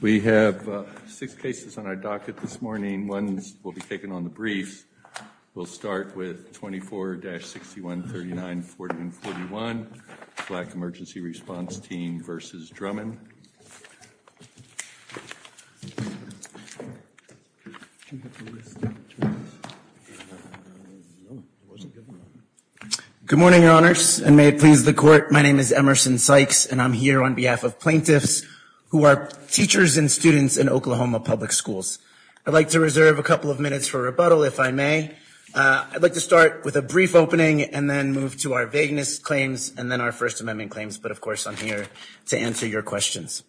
We have six cases on our docket this morning. One will be taken on the briefs. We'll start with 24-6139-4141, Black Emergency Response Team v. Drummond. Good morning, Your Honors, and may it please the Court, my name is Emerson Sykes, and I'm here on behalf of plaintiffs who are teachers and students in Oklahoma public schools. I'd like to reserve a couple of minutes for rebuttal, if I may. I'd like to start with a brief opening and then move to our vagueness claims and then our First Amendment claims, but of course I'm here to answer your questions.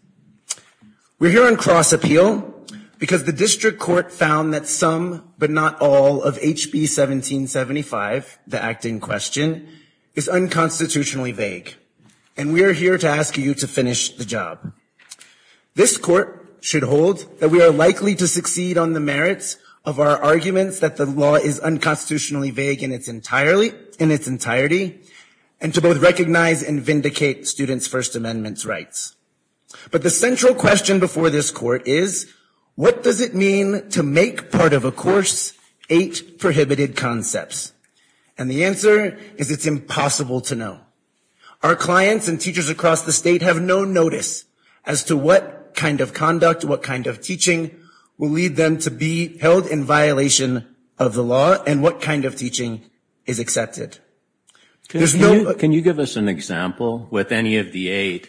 We're here on cross-appeal because the District Court found that some, but not all, of HB 1775, the act in question, is unconstitutionally vague. And we are here to ask you to finish the job. This Court should hold that we are likely to succeed on the merits of our arguments that the law is unconstitutionally vague in its entirety, and to both recognize and vindicate students' First Amendment rights. But the central question before this Court is, what does it mean to make part of a course eight prohibited concepts? And the answer is it's impossible to know. Our clients and teachers across the state have no notice as to what kind of conduct, what kind of teaching will lead them to be held in violation of the law and what kind of teaching is accepted. Can you give us an example with any of the eight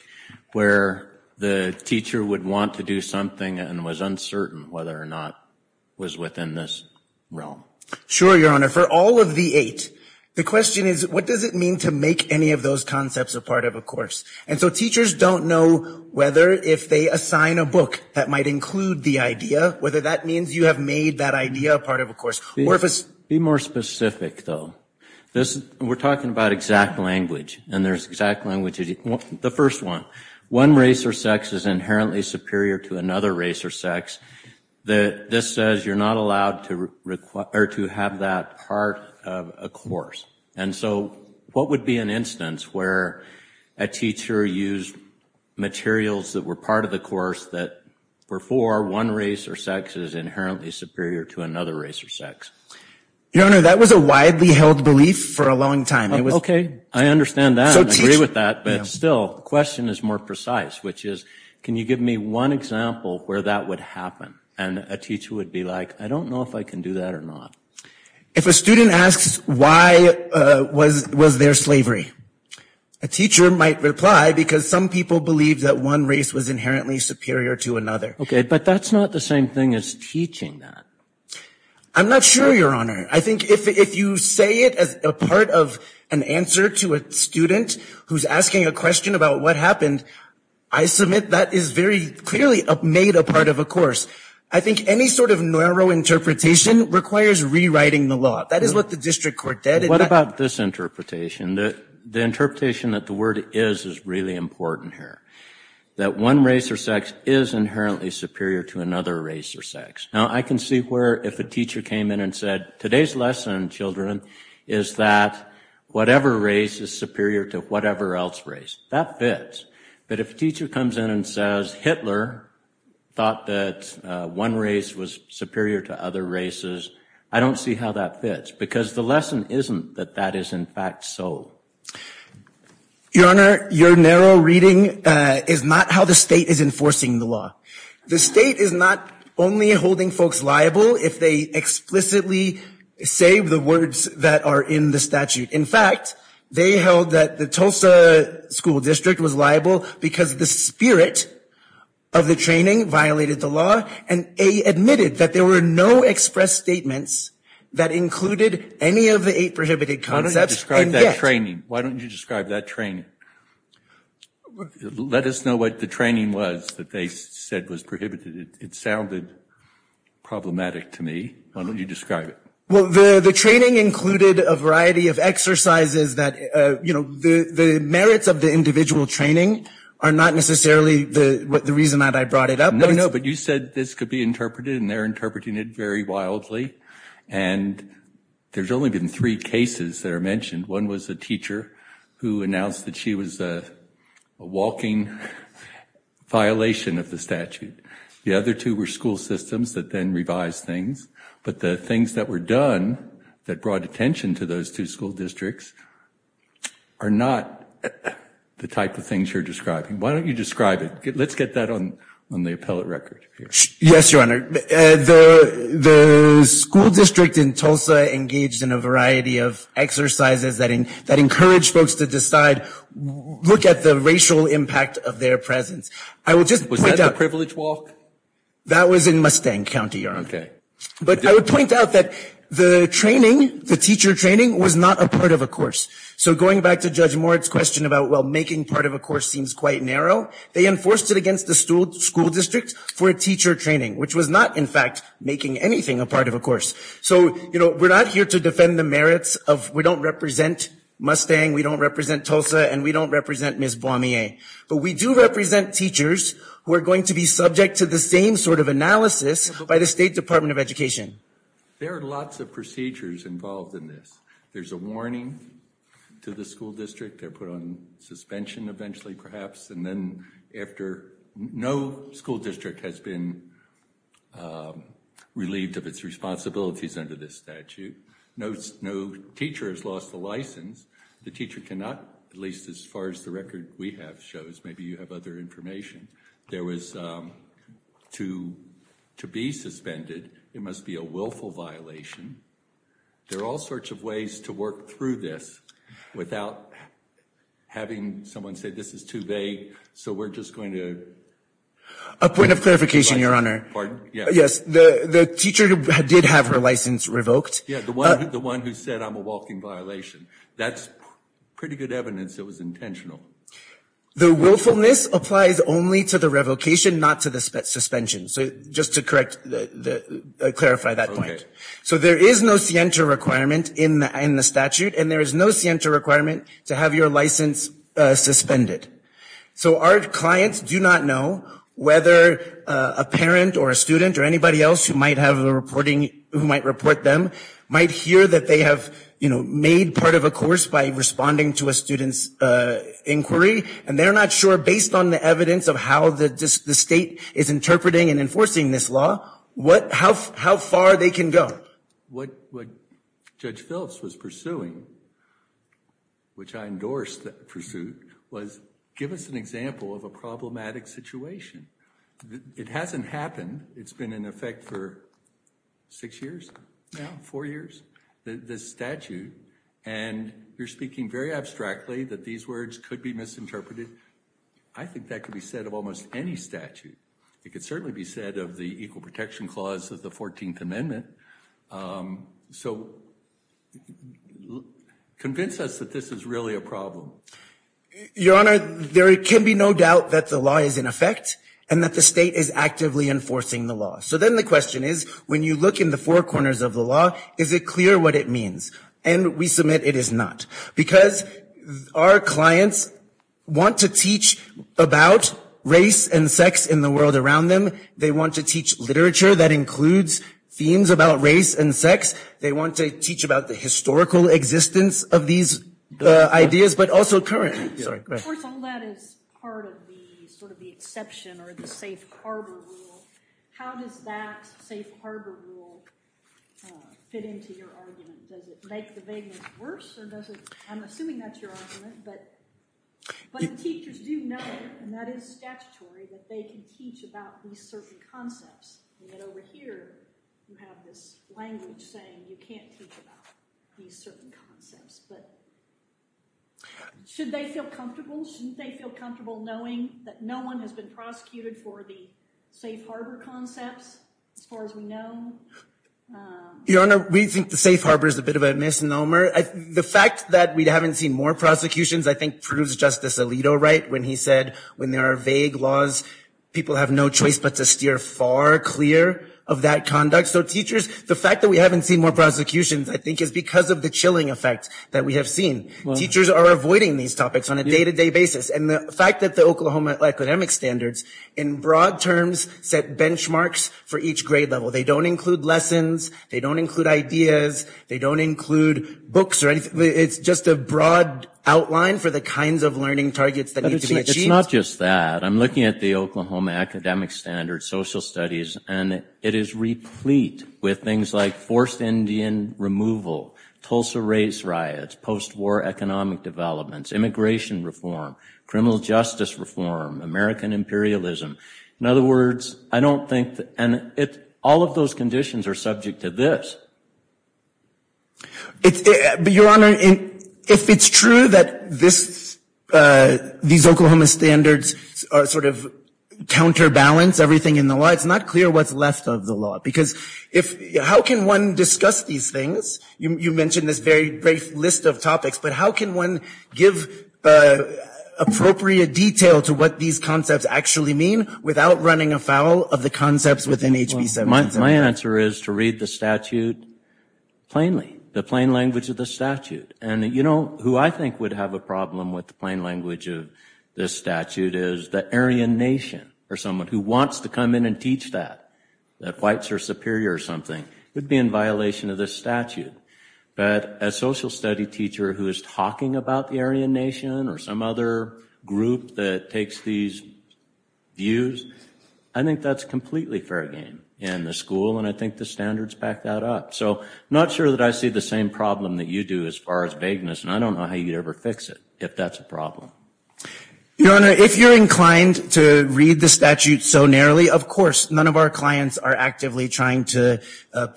where the teacher would want to do something and was uncertain whether or not it was within this realm? Sure, Your Honor. For all of the eight, the question is, what does it mean to make any of those concepts a part of a course? And so teachers don't know whether, if they assign a book that might include the idea, whether that means you have made that idea a part of a course, or if it's... Be more specific, though. We're talking about exact language, and there's exact language. The first one, one race or sex is inherently superior to another race or sex. This says you're not allowed to have that part of a course. And so what would be an instance where a teacher used materials that were part of the course that were for one race or sex is inherently superior to another race or sex? Your Honor, that was a widely held belief for a long time. Okay. I understand that. I agree with that. But still, the question is more precise, which is, can you give me one example where that would happen? And a teacher would be like, I don't know if I can do that or not. If a student asks, why was there slavery? A teacher might reply because some people believe that one race was inherently superior to another. Okay. But that's not the same thing as teaching that. I'm not sure, Your Honor. I think if you say it as a part of an answer to a student who's asking a question about what happened, I submit that is very clearly made a part of a course. I think any sort of narrow interpretation requires rewriting the law. That is what the district court did. What about this interpretation? The interpretation that the word is is really important here. That one race or sex is inherently superior to another race or sex. Now I can see where if a teacher came in and said, today's lesson, children, is that whatever race is superior to whatever else race. That fits. But if a teacher comes in and says, Hitler thought that one race was superior to other races, I don't see how that fits. Because the lesson isn't that that is in fact so. Your Honor, your narrow reading is not how the state is enforcing the law. The state is not only holding folks liable if they explicitly say the words that are in the statute. In fact, they held that the Tulsa School District was liable because the spirit of the training violated the law and they admitted that there were no express statements that included any of the eight prohibited concepts. Why don't you describe that training? Why don't you describe that training? Let us know what the training was that they said was prohibited. It sounded problematic to me. Why don't you describe it? Well, the training included a variety of exercises that, you know, the merits of the individual training are not necessarily the reason that I brought it up. No, no, but you said this could be interpreted and they're interpreting it very wildly. And there's only been three cases that are mentioned. One was a teacher who announced that she was a walking violation of the statute. The other two were school systems that then revised things. But the things that were done that brought attention to those two school districts are not the type of things you're describing. Why don't you describe it? Let's get that on the appellate record here. Yes, Your Honor. The school district in Tulsa engaged in a variety of exercises that encouraged folks to decide, look at the racial impact of their presence. I will just point out- Was that the privilege walk? That was in Mustang County, Your Honor. But I would point out that the training, the teacher training, was not a part of a course. So going back to Judge Moritz' question about, well, making part of a course seems quite narrow, they enforced it against the school district for a teacher training, which was not, in fact, making anything a part of a course. So, you know, we're not here to defend the merits of, we don't represent Mustang, we don't represent Tulsa, and we don't represent Ms. Boismeier. But we do represent teachers who are going to be subject to the same sort of analysis by the State Department of Education. There are lots of procedures involved in this. There's a warning to the school district, they're put on suspension eventually, perhaps, and then after no school district has been relieved of its responsibilities under this statute, no teacher has lost a license, the teacher cannot, at least as far as the record we have shows, maybe you have other information. There was, to be suspended, it must be a willful violation, there are all sorts of ways to work through this without having someone say, this is too vague, so we're just going to A point of clarification, Your Honor. Pardon? Yes, the teacher did have her license revoked. Yeah, the one who said, I'm a walking violation, that's pretty good evidence it was intentional. The willfulness applies only to the revocation, not to the suspension. Just to correct, clarify that point. So there is no scienter requirement in the statute, and there is no scienter requirement to have your license suspended. So our clients do not know whether a parent or a student or anybody else who might have a reporting, who might report them, might hear that they have made part of a course by responding to a student's inquiry, and they're not sure, based on the evidence of how the state is interpreting and enforcing this law, how far they can go. What Judge Phelps was pursuing, which I endorsed that pursuit, was give us an example of a problematic situation. It hasn't happened, it's been in effect for six years now, four years, this statute, and you're speaking very abstractly that these words could be misinterpreted. I think that could be said of almost any statute. It could certainly be said of the Equal Protection Clause of the 14th Amendment. So convince us that this is really a problem. Your Honor, there can be no doubt that the law is in effect, and that the state is actively enforcing the law. So then the question is, when you look in the four corners of the law, is it clear what it means? And we submit it is not. Because our clients want to teach about race and sex in the world around them. They want to teach literature that includes themes about race and sex. They want to teach about the historical existence of these ideas, but also current. Of course, all that is part of the, sort of the exception, or the safe harbor rule. How does that safe harbor rule fit into your argument? Does it make the vagueness worse, or does it, I'm assuming that's your argument, but the teachers do know, and that is statutory, that they can teach about these certain concepts. And then over here, you have this language saying you can't teach about these certain concepts, but should they feel comfortable? Shouldn't they feel comfortable knowing that no one has been prosecuted for the safe harbor concepts, as far as we know? Your Honor, we think the safe harbor is a bit of a misnomer. The fact that we haven't seen more prosecutions, I think, proves Justice Alito right, when he said, when there are vague laws, people have no choice but to steer far clear of that conduct. So teachers, the fact that we haven't seen more prosecutions, I think, is because of the chilling effect that we have seen. Teachers are avoiding these topics on a day-to-day basis. And the fact that the Oklahoma academic standards, in broad terms, set benchmarks for each grade level. They don't include lessons, they don't include ideas, they don't include books or anything. It's just a broad outline for the kinds of learning targets that need to be achieved. It's not just that. I'm looking at the Oklahoma academic standards, social studies, and it is replete with things like forced Indian removal, Tulsa race riots, post-war economic developments, immigration reform, criminal justice reform, American imperialism. In other words, I don't think, and all of those conditions are subject to this. But your honor, if it's true that these Oklahoma standards sort of counterbalance everything in the law, it's not clear what's left of the law. Because how can one discuss these things? You mentioned this very brief list of topics. But how can one give appropriate detail to what these concepts actually mean, without running afoul of the concepts within HB 777? My answer is to read the statute plainly, the plain language of the statute. And who I think would have a problem with the plain language of this statute is the Aryan nation, or someone who wants to come in and teach that. That whites are superior or something, would be in violation of this statute. But a social study teacher who is talking about the Aryan nation, or some other group that takes these views, I think that's completely fair game in the school, and I think the standards back that up. So I'm not sure that I see the same problem that you do as far as vagueness, and I don't know how you'd ever fix it, if that's a problem. Your honor, if you're inclined to read the statute so narrowly, of course, none of our clients are actively trying to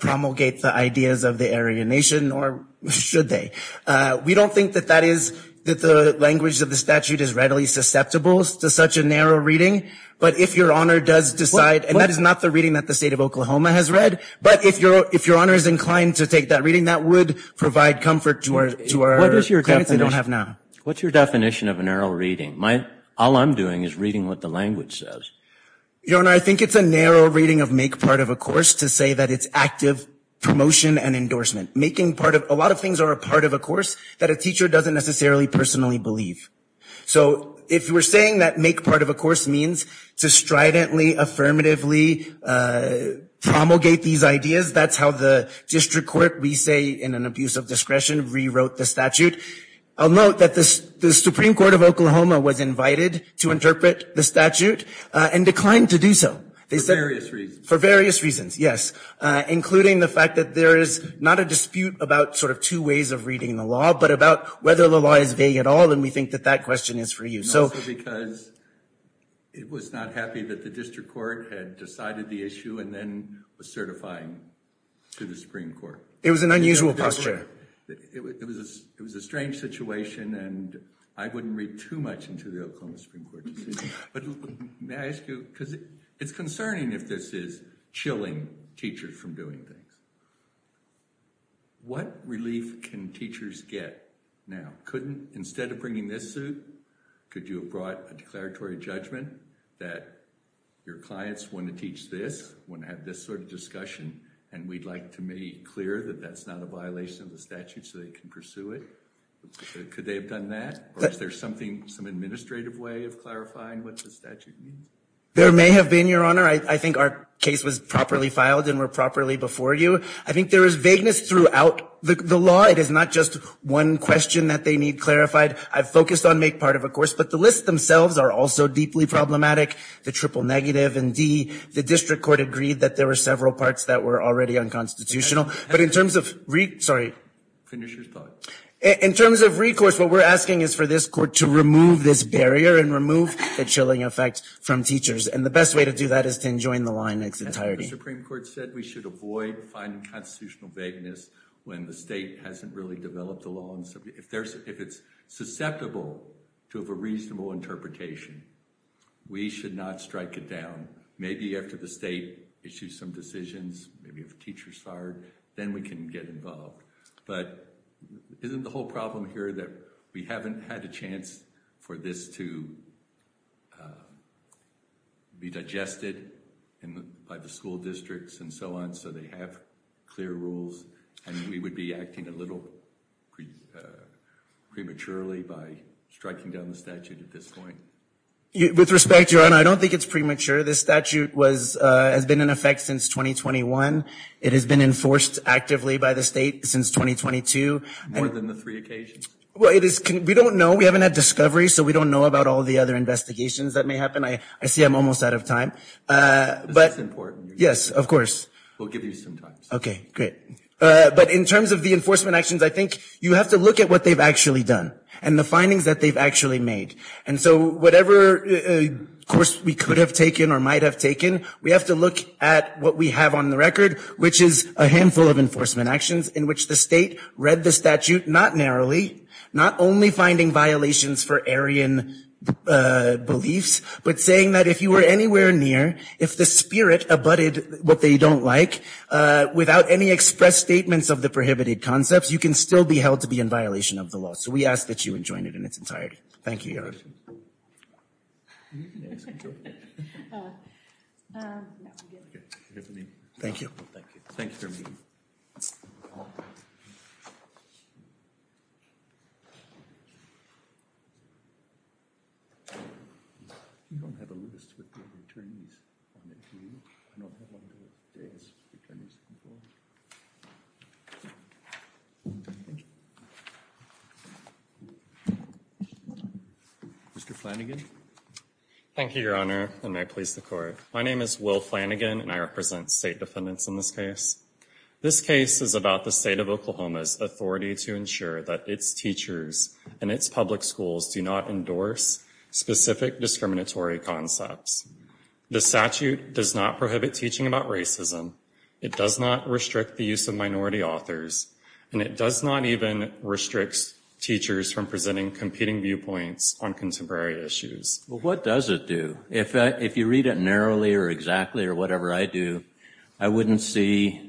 promulgate the ideas of the Aryan nation, or should they? We don't think that that is, that the language of the statute is readily susceptible to such a narrow reading. But if your honor does decide, and that is not the reading that the state of Oklahoma has read, but if your honor is inclined to take that reading, that would provide comfort to our clients who don't have now. What's your definition of a narrow reading? All I'm doing is reading what the language says. Your honor, I think it's a narrow reading of make part of a course to say that it's active promotion and endorsement. Making part of, a lot of things are a part of a course that a teacher doesn't necessarily personally believe. So if we're saying that make part of a course means to stridently, affirmatively promulgate these ideas, that's how the district court, we say in an abuse of discretion, rewrote the statute. I'll note that the Supreme Court of Oklahoma was invited to interpret the statute, and declined to do so. They said- For various reasons. For various reasons, yes. Including the fact that there is not a dispute about sort of two ways of reading the law, but about whether the law is vague at all, and we think that that question is for you. So- Also because it was not happy that the district court had decided the issue, and then was certifying to the Supreme Court. It was an unusual posture. It was a strange situation, and I wouldn't read too much into the Oklahoma Supreme Court decision. But may I ask you, because it's concerning if this is chilling teachers from doing things. What relief can teachers get now? Couldn't, instead of bringing this suit, could you have brought a declaratory judgment that your clients want to teach this, want to have this sort of discussion, and we'd like to make clear that that's not a violation of the statute so they can pursue it? Could they have done that? Or is there something, some administrative way of clarifying what the statute means? There may have been, your honor. I think our case was properly filed, and were properly before you. I think there is vagueness throughout the law. It is not just one question that they need clarified. I've focused on make part of a course, but the lists themselves are also deeply problematic. The triple negative, and D, the district court agreed that there were several parts that were already unconstitutional. But in terms of, sorry. Finish your thought. In terms of recourse, what we're asking is for this court to remove this barrier and remove the chilling effect from teachers. And the best way to do that is to enjoin the line in its entirety. The Supreme Court said we should avoid finding constitutional vagueness when the state hasn't really developed a law. If it's susceptible to have a reasonable interpretation, we should not strike it down. Maybe after the state issues some decisions, maybe if a teacher's fired, then we can get involved. But isn't the whole problem here that we haven't had a chance for this to be digested by the school districts and so on, so they have clear rules, and we would be acting a little prematurely by striking down the statute at this point? With respect, Your Honor, I don't think it's premature. This statute has been in effect since 2021. It has been enforced actively by the state since 2022. More than the three occasions? Well, we don't know. We haven't had discovery, so we don't know about all the other investigations that may happen. I see I'm almost out of time. But it's important. Yes, of course. We'll give you some time. Okay, great. But in terms of the enforcement actions, I think you have to look at what they've actually done and the findings that they've actually made. And so whatever course we could have taken or might have taken, we have to look at what we have on the record, which is a handful of enforcement actions in which the state read the statute not narrowly, not only finding violations for Aryan beliefs, but saying that if you were anywhere near, if the spirit abutted what they don't like, without any expressed statements of the prohibited concepts, you can still be held to be in violation of the law. So we ask that you enjoin it in its entirety. Thank you, Eric. Can you ask a question? No, I'm good. Thank you. Thank you for meeting. You don't have a list with the attorneys on it, do you? Mr. Flanagan? Thank you, Your Honor, and may it please the Court. My name is Will Flanagan, and I represent State Defendants in this case. This case is about the State of Oklahoma's authority to ensure that its teachers and its public schools do not endorse specific discriminatory concepts. The statute does not prohibit teaching about racism. It does not restrict the use of minority authors, and it does not even restrict teachers from presenting competing viewpoints on contemporary issues. What does it do? If you read it narrowly or exactly or whatever I do, I wouldn't see,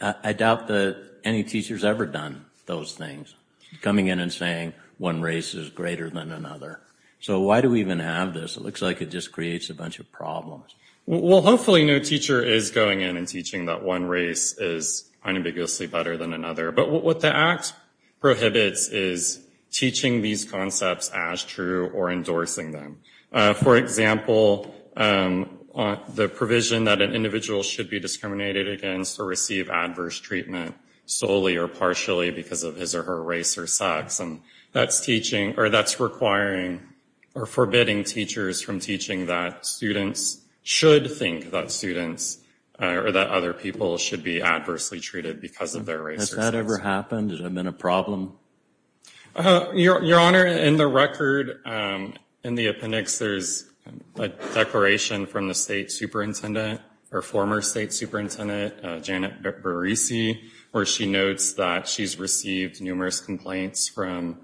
I doubt that any teacher has ever done those things, coming in and saying one race is greater than another. So why do we even have this? It looks like it just creates a bunch of problems. Well, hopefully no teacher is going in and teaching that one race is unambiguously better than another. But what the Act prohibits is teaching these concepts as true or endorsing them. For example, the provision that an individual should be discriminated against or receive adverse treatment solely or partially because of his or her race or sex, and that's teaching or that's requiring or forbidding teachers from teaching that students should think that students or that other people should be adversely treated because of their race or sex. Has that ever happened? Has it ever been a problem? Your Honor, in the record, in the appendix, there's a declaration from the state superintendent or former state superintendent, Janet Barisi, where she notes that she's received numerous complaints from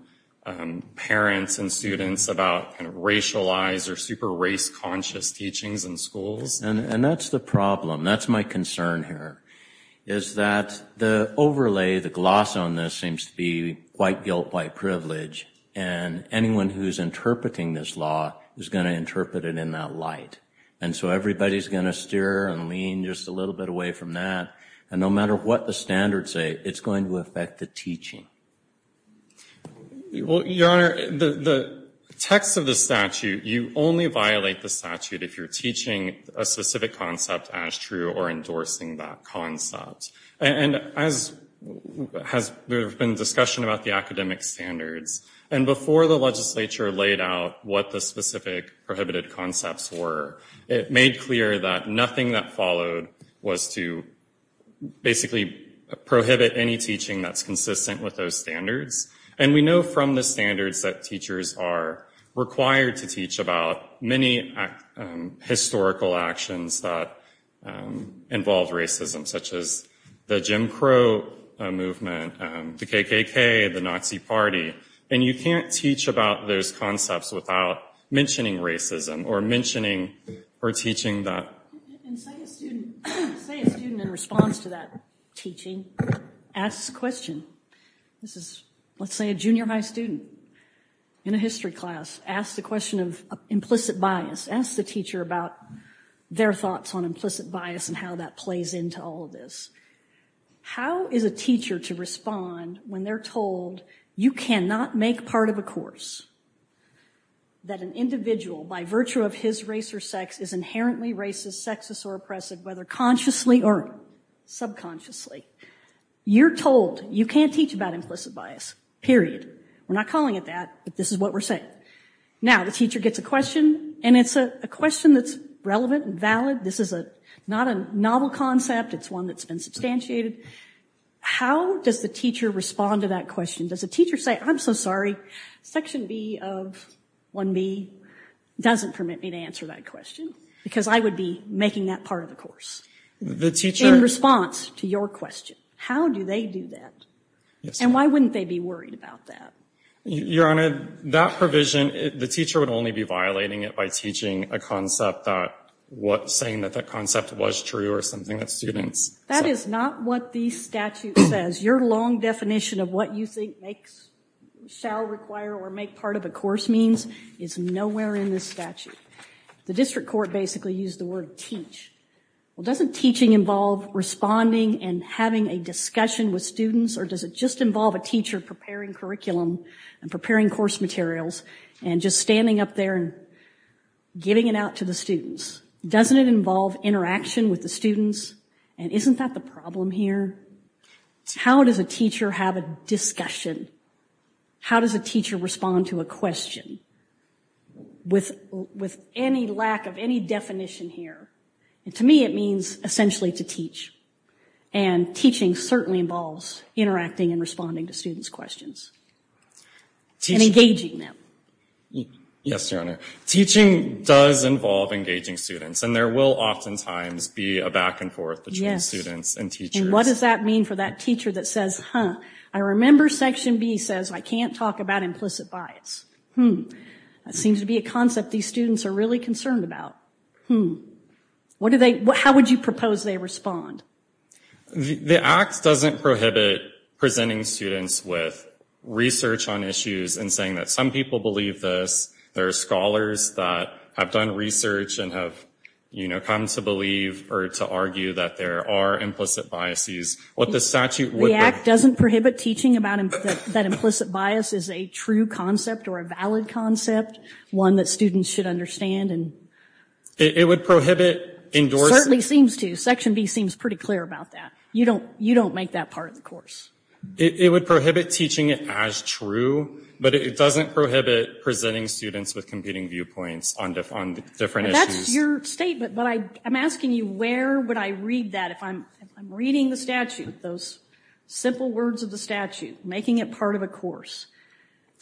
parents and students about racialized or super race conscious teachings in schools. And that's the problem. That's my concern here. Is that the overlay, the gloss on this seems to be white guilt, white privilege. And anyone who's interpreting this law is going to interpret it in that light. And so everybody's going to steer and lean just a little bit away from that. And no matter what the standards say, it's going to affect the teaching. Well, Your Honor, the text of the statute, you only violate the statute if you're teaching a specific concept as true or endorsing that concept. And as there's been discussion about the academic standards, and before the legislature laid out what the specific prohibited concepts were, it made clear that nothing that followed was to basically prohibit any teaching that's consistent with those standards. And we know from the standards that teachers are required to teach about many historical actions that involve racism, such as the Jim Crow movement, the KKK, the Nazi Party. And you can't teach about those concepts without mentioning racism or mentioning or teaching that. And say a student in response to that teaching asks a question. This is, let's say, a junior high student in a history class asks the question of implicit bias, asks the teacher about their thoughts on implicit bias and how that plays into all of this. How is a teacher to respond when they're told you cannot make part of a course, that an individual, by virtue of his race or sex, is inherently racist, sexist, or oppressive, whether consciously or subconsciously? You're told you can't teach about implicit bias, period. We're not calling it that, but this is what we're saying. Now the teacher gets a question, and it's a question that's relevant and valid. This is not a novel concept. It's one that's been substantiated. How does the teacher respond to that question? Does the teacher say, I'm so sorry, section B of 1B doesn't permit me to answer that question because I would be making that part of the course in response to your question? How do they do that? And why wouldn't they be worried about that? Your Honor, that provision, the teacher would only be violating it by teaching a concept that, saying that that concept was true or something that students. That is not what the statute says. Your long definition of what you think makes, shall require, or make part of a course means is nowhere in the statute. The district court basically used the word teach. Well, doesn't teaching involve responding and having a discussion with students, or does it just involve a teacher preparing curriculum and preparing course materials and just standing up there and giving it out to the students? Doesn't it involve interaction with the students? And isn't that the problem here? How does a teacher have a discussion? How does a teacher respond to a question? With any lack of any definition here, and to me it means essentially to teach, and teaching certainly involves interacting and responding to students' questions and engaging them. Yes, Your Honor. Teaching does involve engaging students, and there will oftentimes be a back and forth between students and teachers. And what does that mean for that teacher that says, huh, I remember section B says I can't talk about implicit bias. Hmm. That seems to be a concept these students are really concerned about. Hmm. What do they, how would you propose they respond? The act doesn't prohibit presenting students with research on issues and saying that some people believe this, there are scholars that have done research and have, you know, come to believe or to argue that there are implicit biases. What the statute would be. The act doesn't prohibit teaching about that implicit bias as a true concept or a valid concept, one that students should understand and. It would prohibit endorsing. Certainly seems to. Section B seems pretty clear about that. You don't make that part of the course. It would prohibit teaching it as true, but it doesn't prohibit presenting students with competing viewpoints on different issues. That's your statement, but I'm asking you where would I read that if I'm reading the statute, those simple words of the statute, making it part of a course.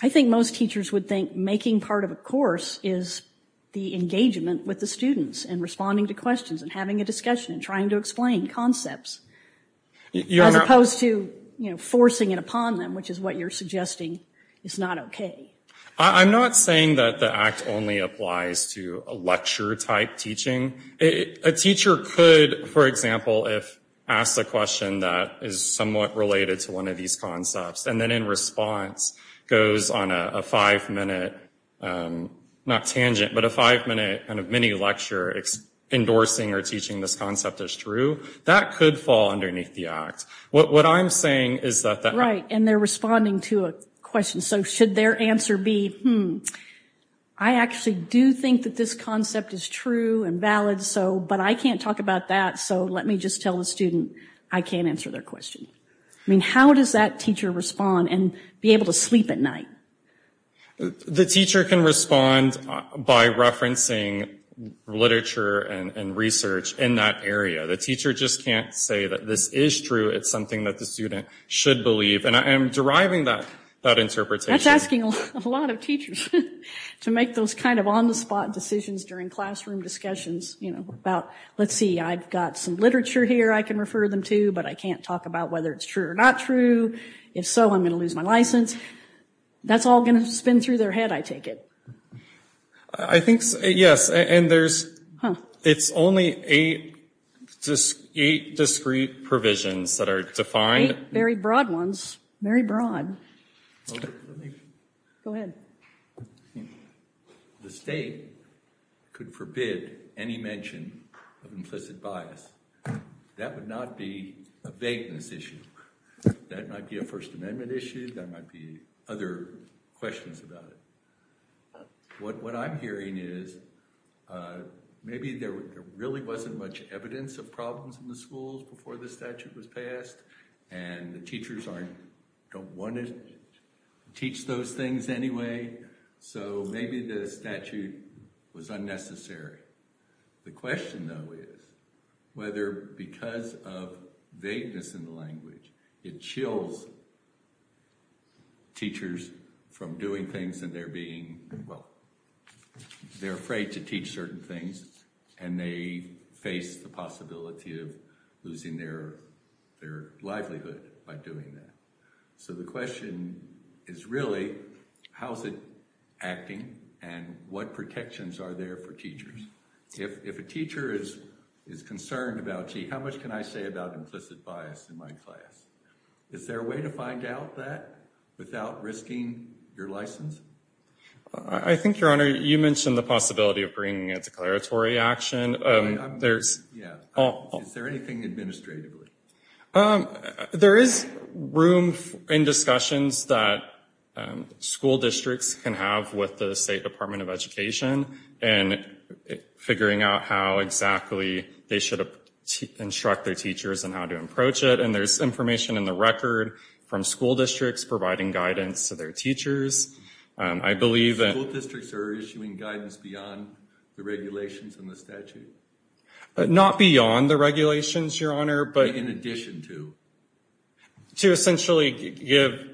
I think most teachers would think making part of a course is the engagement with the students and responding to questions and having a discussion and trying to explain concepts. You're not. As opposed to, you know, forcing it upon them, which is what you're suggesting is not okay. I'm not saying that the act only applies to a lecture type teaching. A teacher could, for example, if asked a question that is somewhat related to one of these concepts and then in response goes on a five minute, not tangent, but a five minute kind of mini lecture endorsing or teaching this concept as true, that could fall underneath the act. What I'm saying is that. Right. And they're responding to a question. So should their answer be, hmm, I actually do think that this concept is true and valid, but I can't talk about that, so let me just tell the student I can't answer their question. I mean, how does that teacher respond and be able to sleep at night? The teacher can respond by referencing literature and research in that area. The teacher just can't say that this is true. It's something that the student should believe. And I am deriving that interpretation. That's asking a lot of teachers to make those kind of on the spot decisions during classroom discussions about, let's see, I've got some literature here I can refer them to, but I can't talk about whether it's true or not true. If so, I'm going to lose my license. That's all going to spin through their head, I take it. I think, yes. And there's, it's only eight discrete provisions that are defined. Eight very broad ones, very broad. Go ahead. The state could forbid any mention of implicit bias. That would not be a vagueness issue. That might be a First Amendment issue, that might be other questions about it. What I'm hearing is maybe there really wasn't much evidence of problems in the schools before the statute was passed and the teachers aren't, don't want to teach those things anyway, so maybe the statute was unnecessary. The question though is whether because of vagueness in the language, it chills teachers from doing things and they're being, well, they're afraid to teach certain things and they face the possibility of losing their livelihood by doing that. So the question is really how is it acting and what protections are there for teachers? If a teacher is concerned about, gee, how much can I say about implicit bias in my class? Is there a way to find out that without risking your license? I think, Your Honor, you mentioned the possibility of bringing a declaratory action. Is there anything administratively? There is room in discussions that school districts can have with the State Department of Education in figuring out how exactly they should instruct their teachers and how to approach it. And there's information in the record from school districts providing guidance to their teachers. I believe that... School districts are issuing guidance beyond the regulations in the statute? Not beyond the regulations, Your Honor, but... In addition to? To essentially give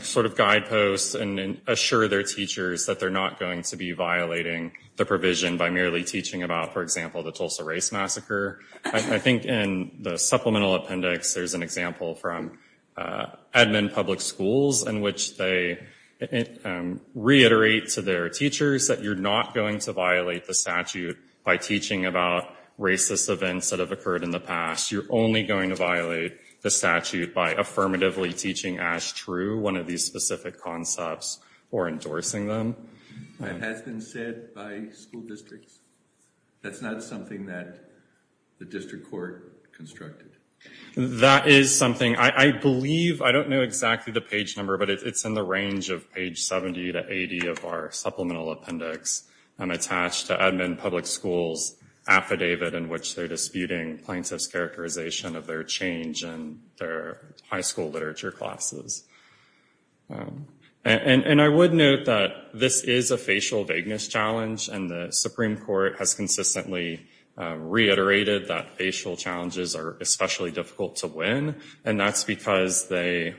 sort of guideposts and assure their teachers that they're not going to be violating the provision by merely teaching about, for example, the Tulsa Race Massacre. I think in the supplemental appendix there's an example from Edmond Public Schools in which they reiterate to their teachers that you're not going to violate the statute by teaching about racist events that have occurred in the past. You're only going to violate the statute by affirmatively teaching as true one of these specific concepts or endorsing them. That has been said by school districts. That's not something that the district court constructed? That is something. I believe, I don't know exactly the page number, but it's in the range of page 70 to 80 of our supplemental appendix attached to Edmond Public Schools affidavit in which they're disputing plaintiffs' characterization of their change in their high school literature classes. And I would note that this is a facial vagueness challenge, and the Supreme Court has consistently reiterated that facial challenges are especially difficult to win, and that's because they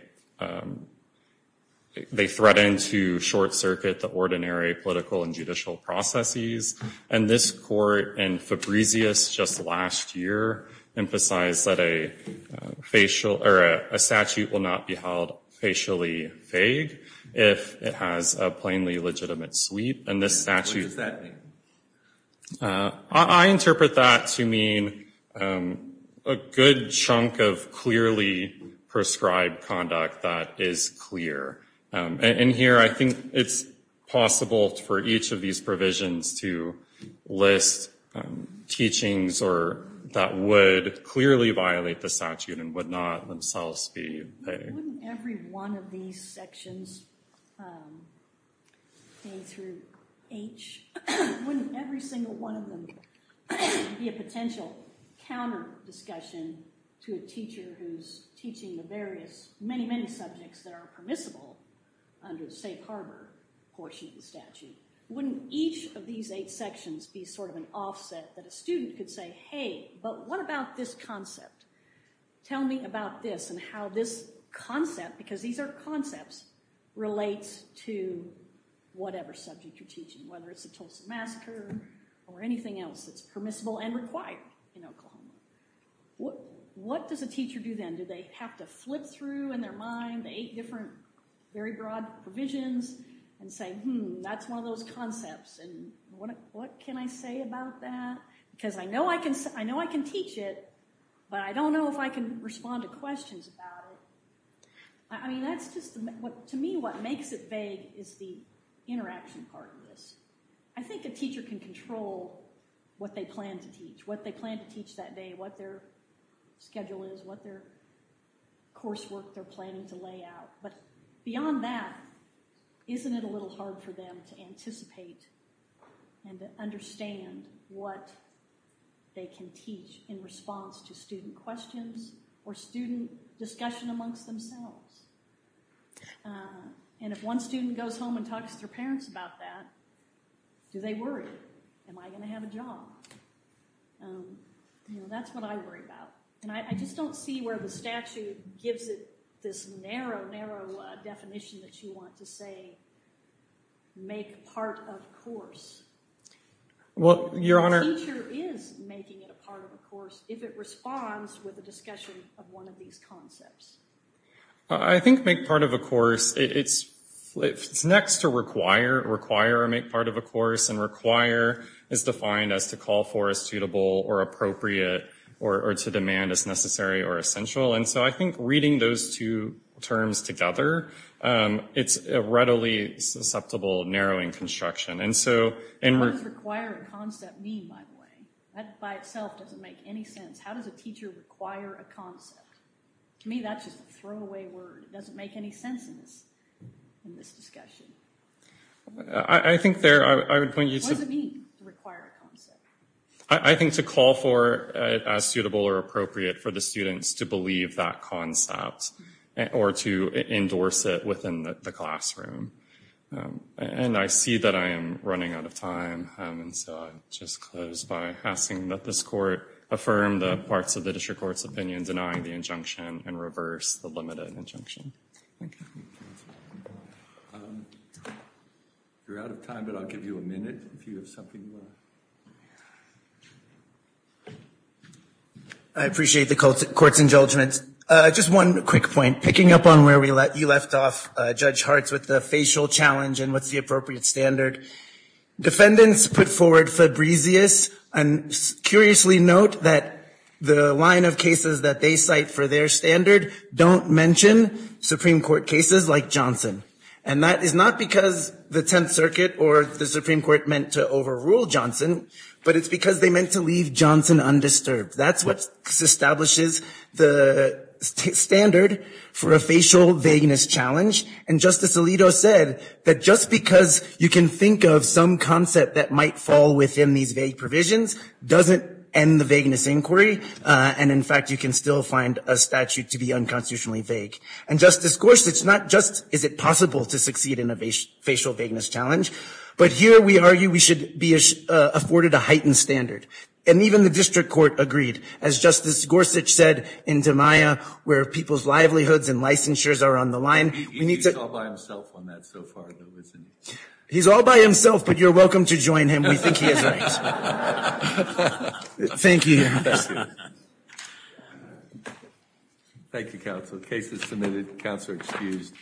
threaten to short-circuit the ordinary political and judicial processes. And this court in Fabricius just last year emphasized that a statute will not be held facially vague if it has a plainly legitimate sweep, and this statute... What does that mean? I interpret that to mean a good chunk of clearly prescribed conduct that is clear. And here I think it's possible for each of these provisions to list teachings that would clearly violate the statute and would not themselves be vague. Wouldn't every one of these sections, A through H, wouldn't every single one of them be a potential counter-discussion to a teacher who's teaching the various, many, many subjects that are permissible under the safe harbor portion of the statute? Wouldn't each of these eight sections be sort of an offset that a student could say, hey, but what about this concept? Tell me about this and how this concept, because these are concepts, relates to whatever subject you're teaching, whether it's the Tulsa Massacre or anything else that's permissible and required in Oklahoma. What does a teacher do then? Do they have to flip through in their mind the eight different very broad provisions and say, hmm, that's one of those concepts, and what can I say about that? Because I know I can teach it, but I don't know if I can respond to questions about it. I mean, that's just, to me, what makes it vague is the interaction part of this. I think a teacher can control what they plan to teach, what they plan to teach that day, what their schedule is, what their coursework they're planning to lay out. But beyond that, isn't it a little hard for them to anticipate and to understand what they can teach in response to student questions or student discussion amongst themselves? And if one student goes home and talks to their parents about that, do they worry? Am I going to have a job? You know, that's what I worry about. And I just don't see where the statute gives it this narrow, narrow definition that you want to say make part of course. A teacher is making it a part of a course if it responds with a discussion of one of these concepts. I think make part of a course, it's next to require, or make part of a course. And require is defined as to call for as suitable or appropriate or to demand as necessary or essential. And so I think reading those two terms together, it's a readily susceptible, narrowing construction. What does require a concept mean, by the way? That by itself doesn't make any sense. How does a teacher require a concept? To me, that's just a throwaway word. It doesn't make any sense in this discussion. I think there, I would point you to. What does it mean to require a concept? I think to call for as suitable or appropriate for the students to believe that concept or to endorse it within the classroom. And I see that I am running out of time. And so I'll just close by asking that this court affirm the parts of the district court's opinion denying the injunction and reverse the limited injunction. You're out of time, but I'll give you a minute if you have something. I appreciate the court's indulgence. Just one quick point. Picking up on where you left off, Judge Hartz, with the facial challenge and what's the appropriate standard. Defendants put forward Fabrizious. And curiously note that the line of cases that they cite for their standard don't mention Supreme Court cases like Johnson. And that is not because the Tenth Circuit or the Supreme Court meant to overrule Johnson, but it's because they meant to leave Johnson undisturbed. That's what establishes the standard for a facial vagueness challenge. And Justice Alito said that just because you can think of some concept that might fall within these vague provisions doesn't end the vagueness inquiry. And in fact, you can still find a statute to be unconstitutionally vague. And Justice Gorsuch, not just is it possible to succeed in a facial vagueness challenge, but here we argue we should be afforded a heightened standard. And even the district court agreed. As Justice Gorsuch said in DiMaia, where people's livelihoods and licensures are on the line. He's all by himself on that so far, though, isn't he? He's all by himself, but you're welcome to join him. We think he is right. Thank you. Thank you, counsel. Case is submitted. Counsel excused.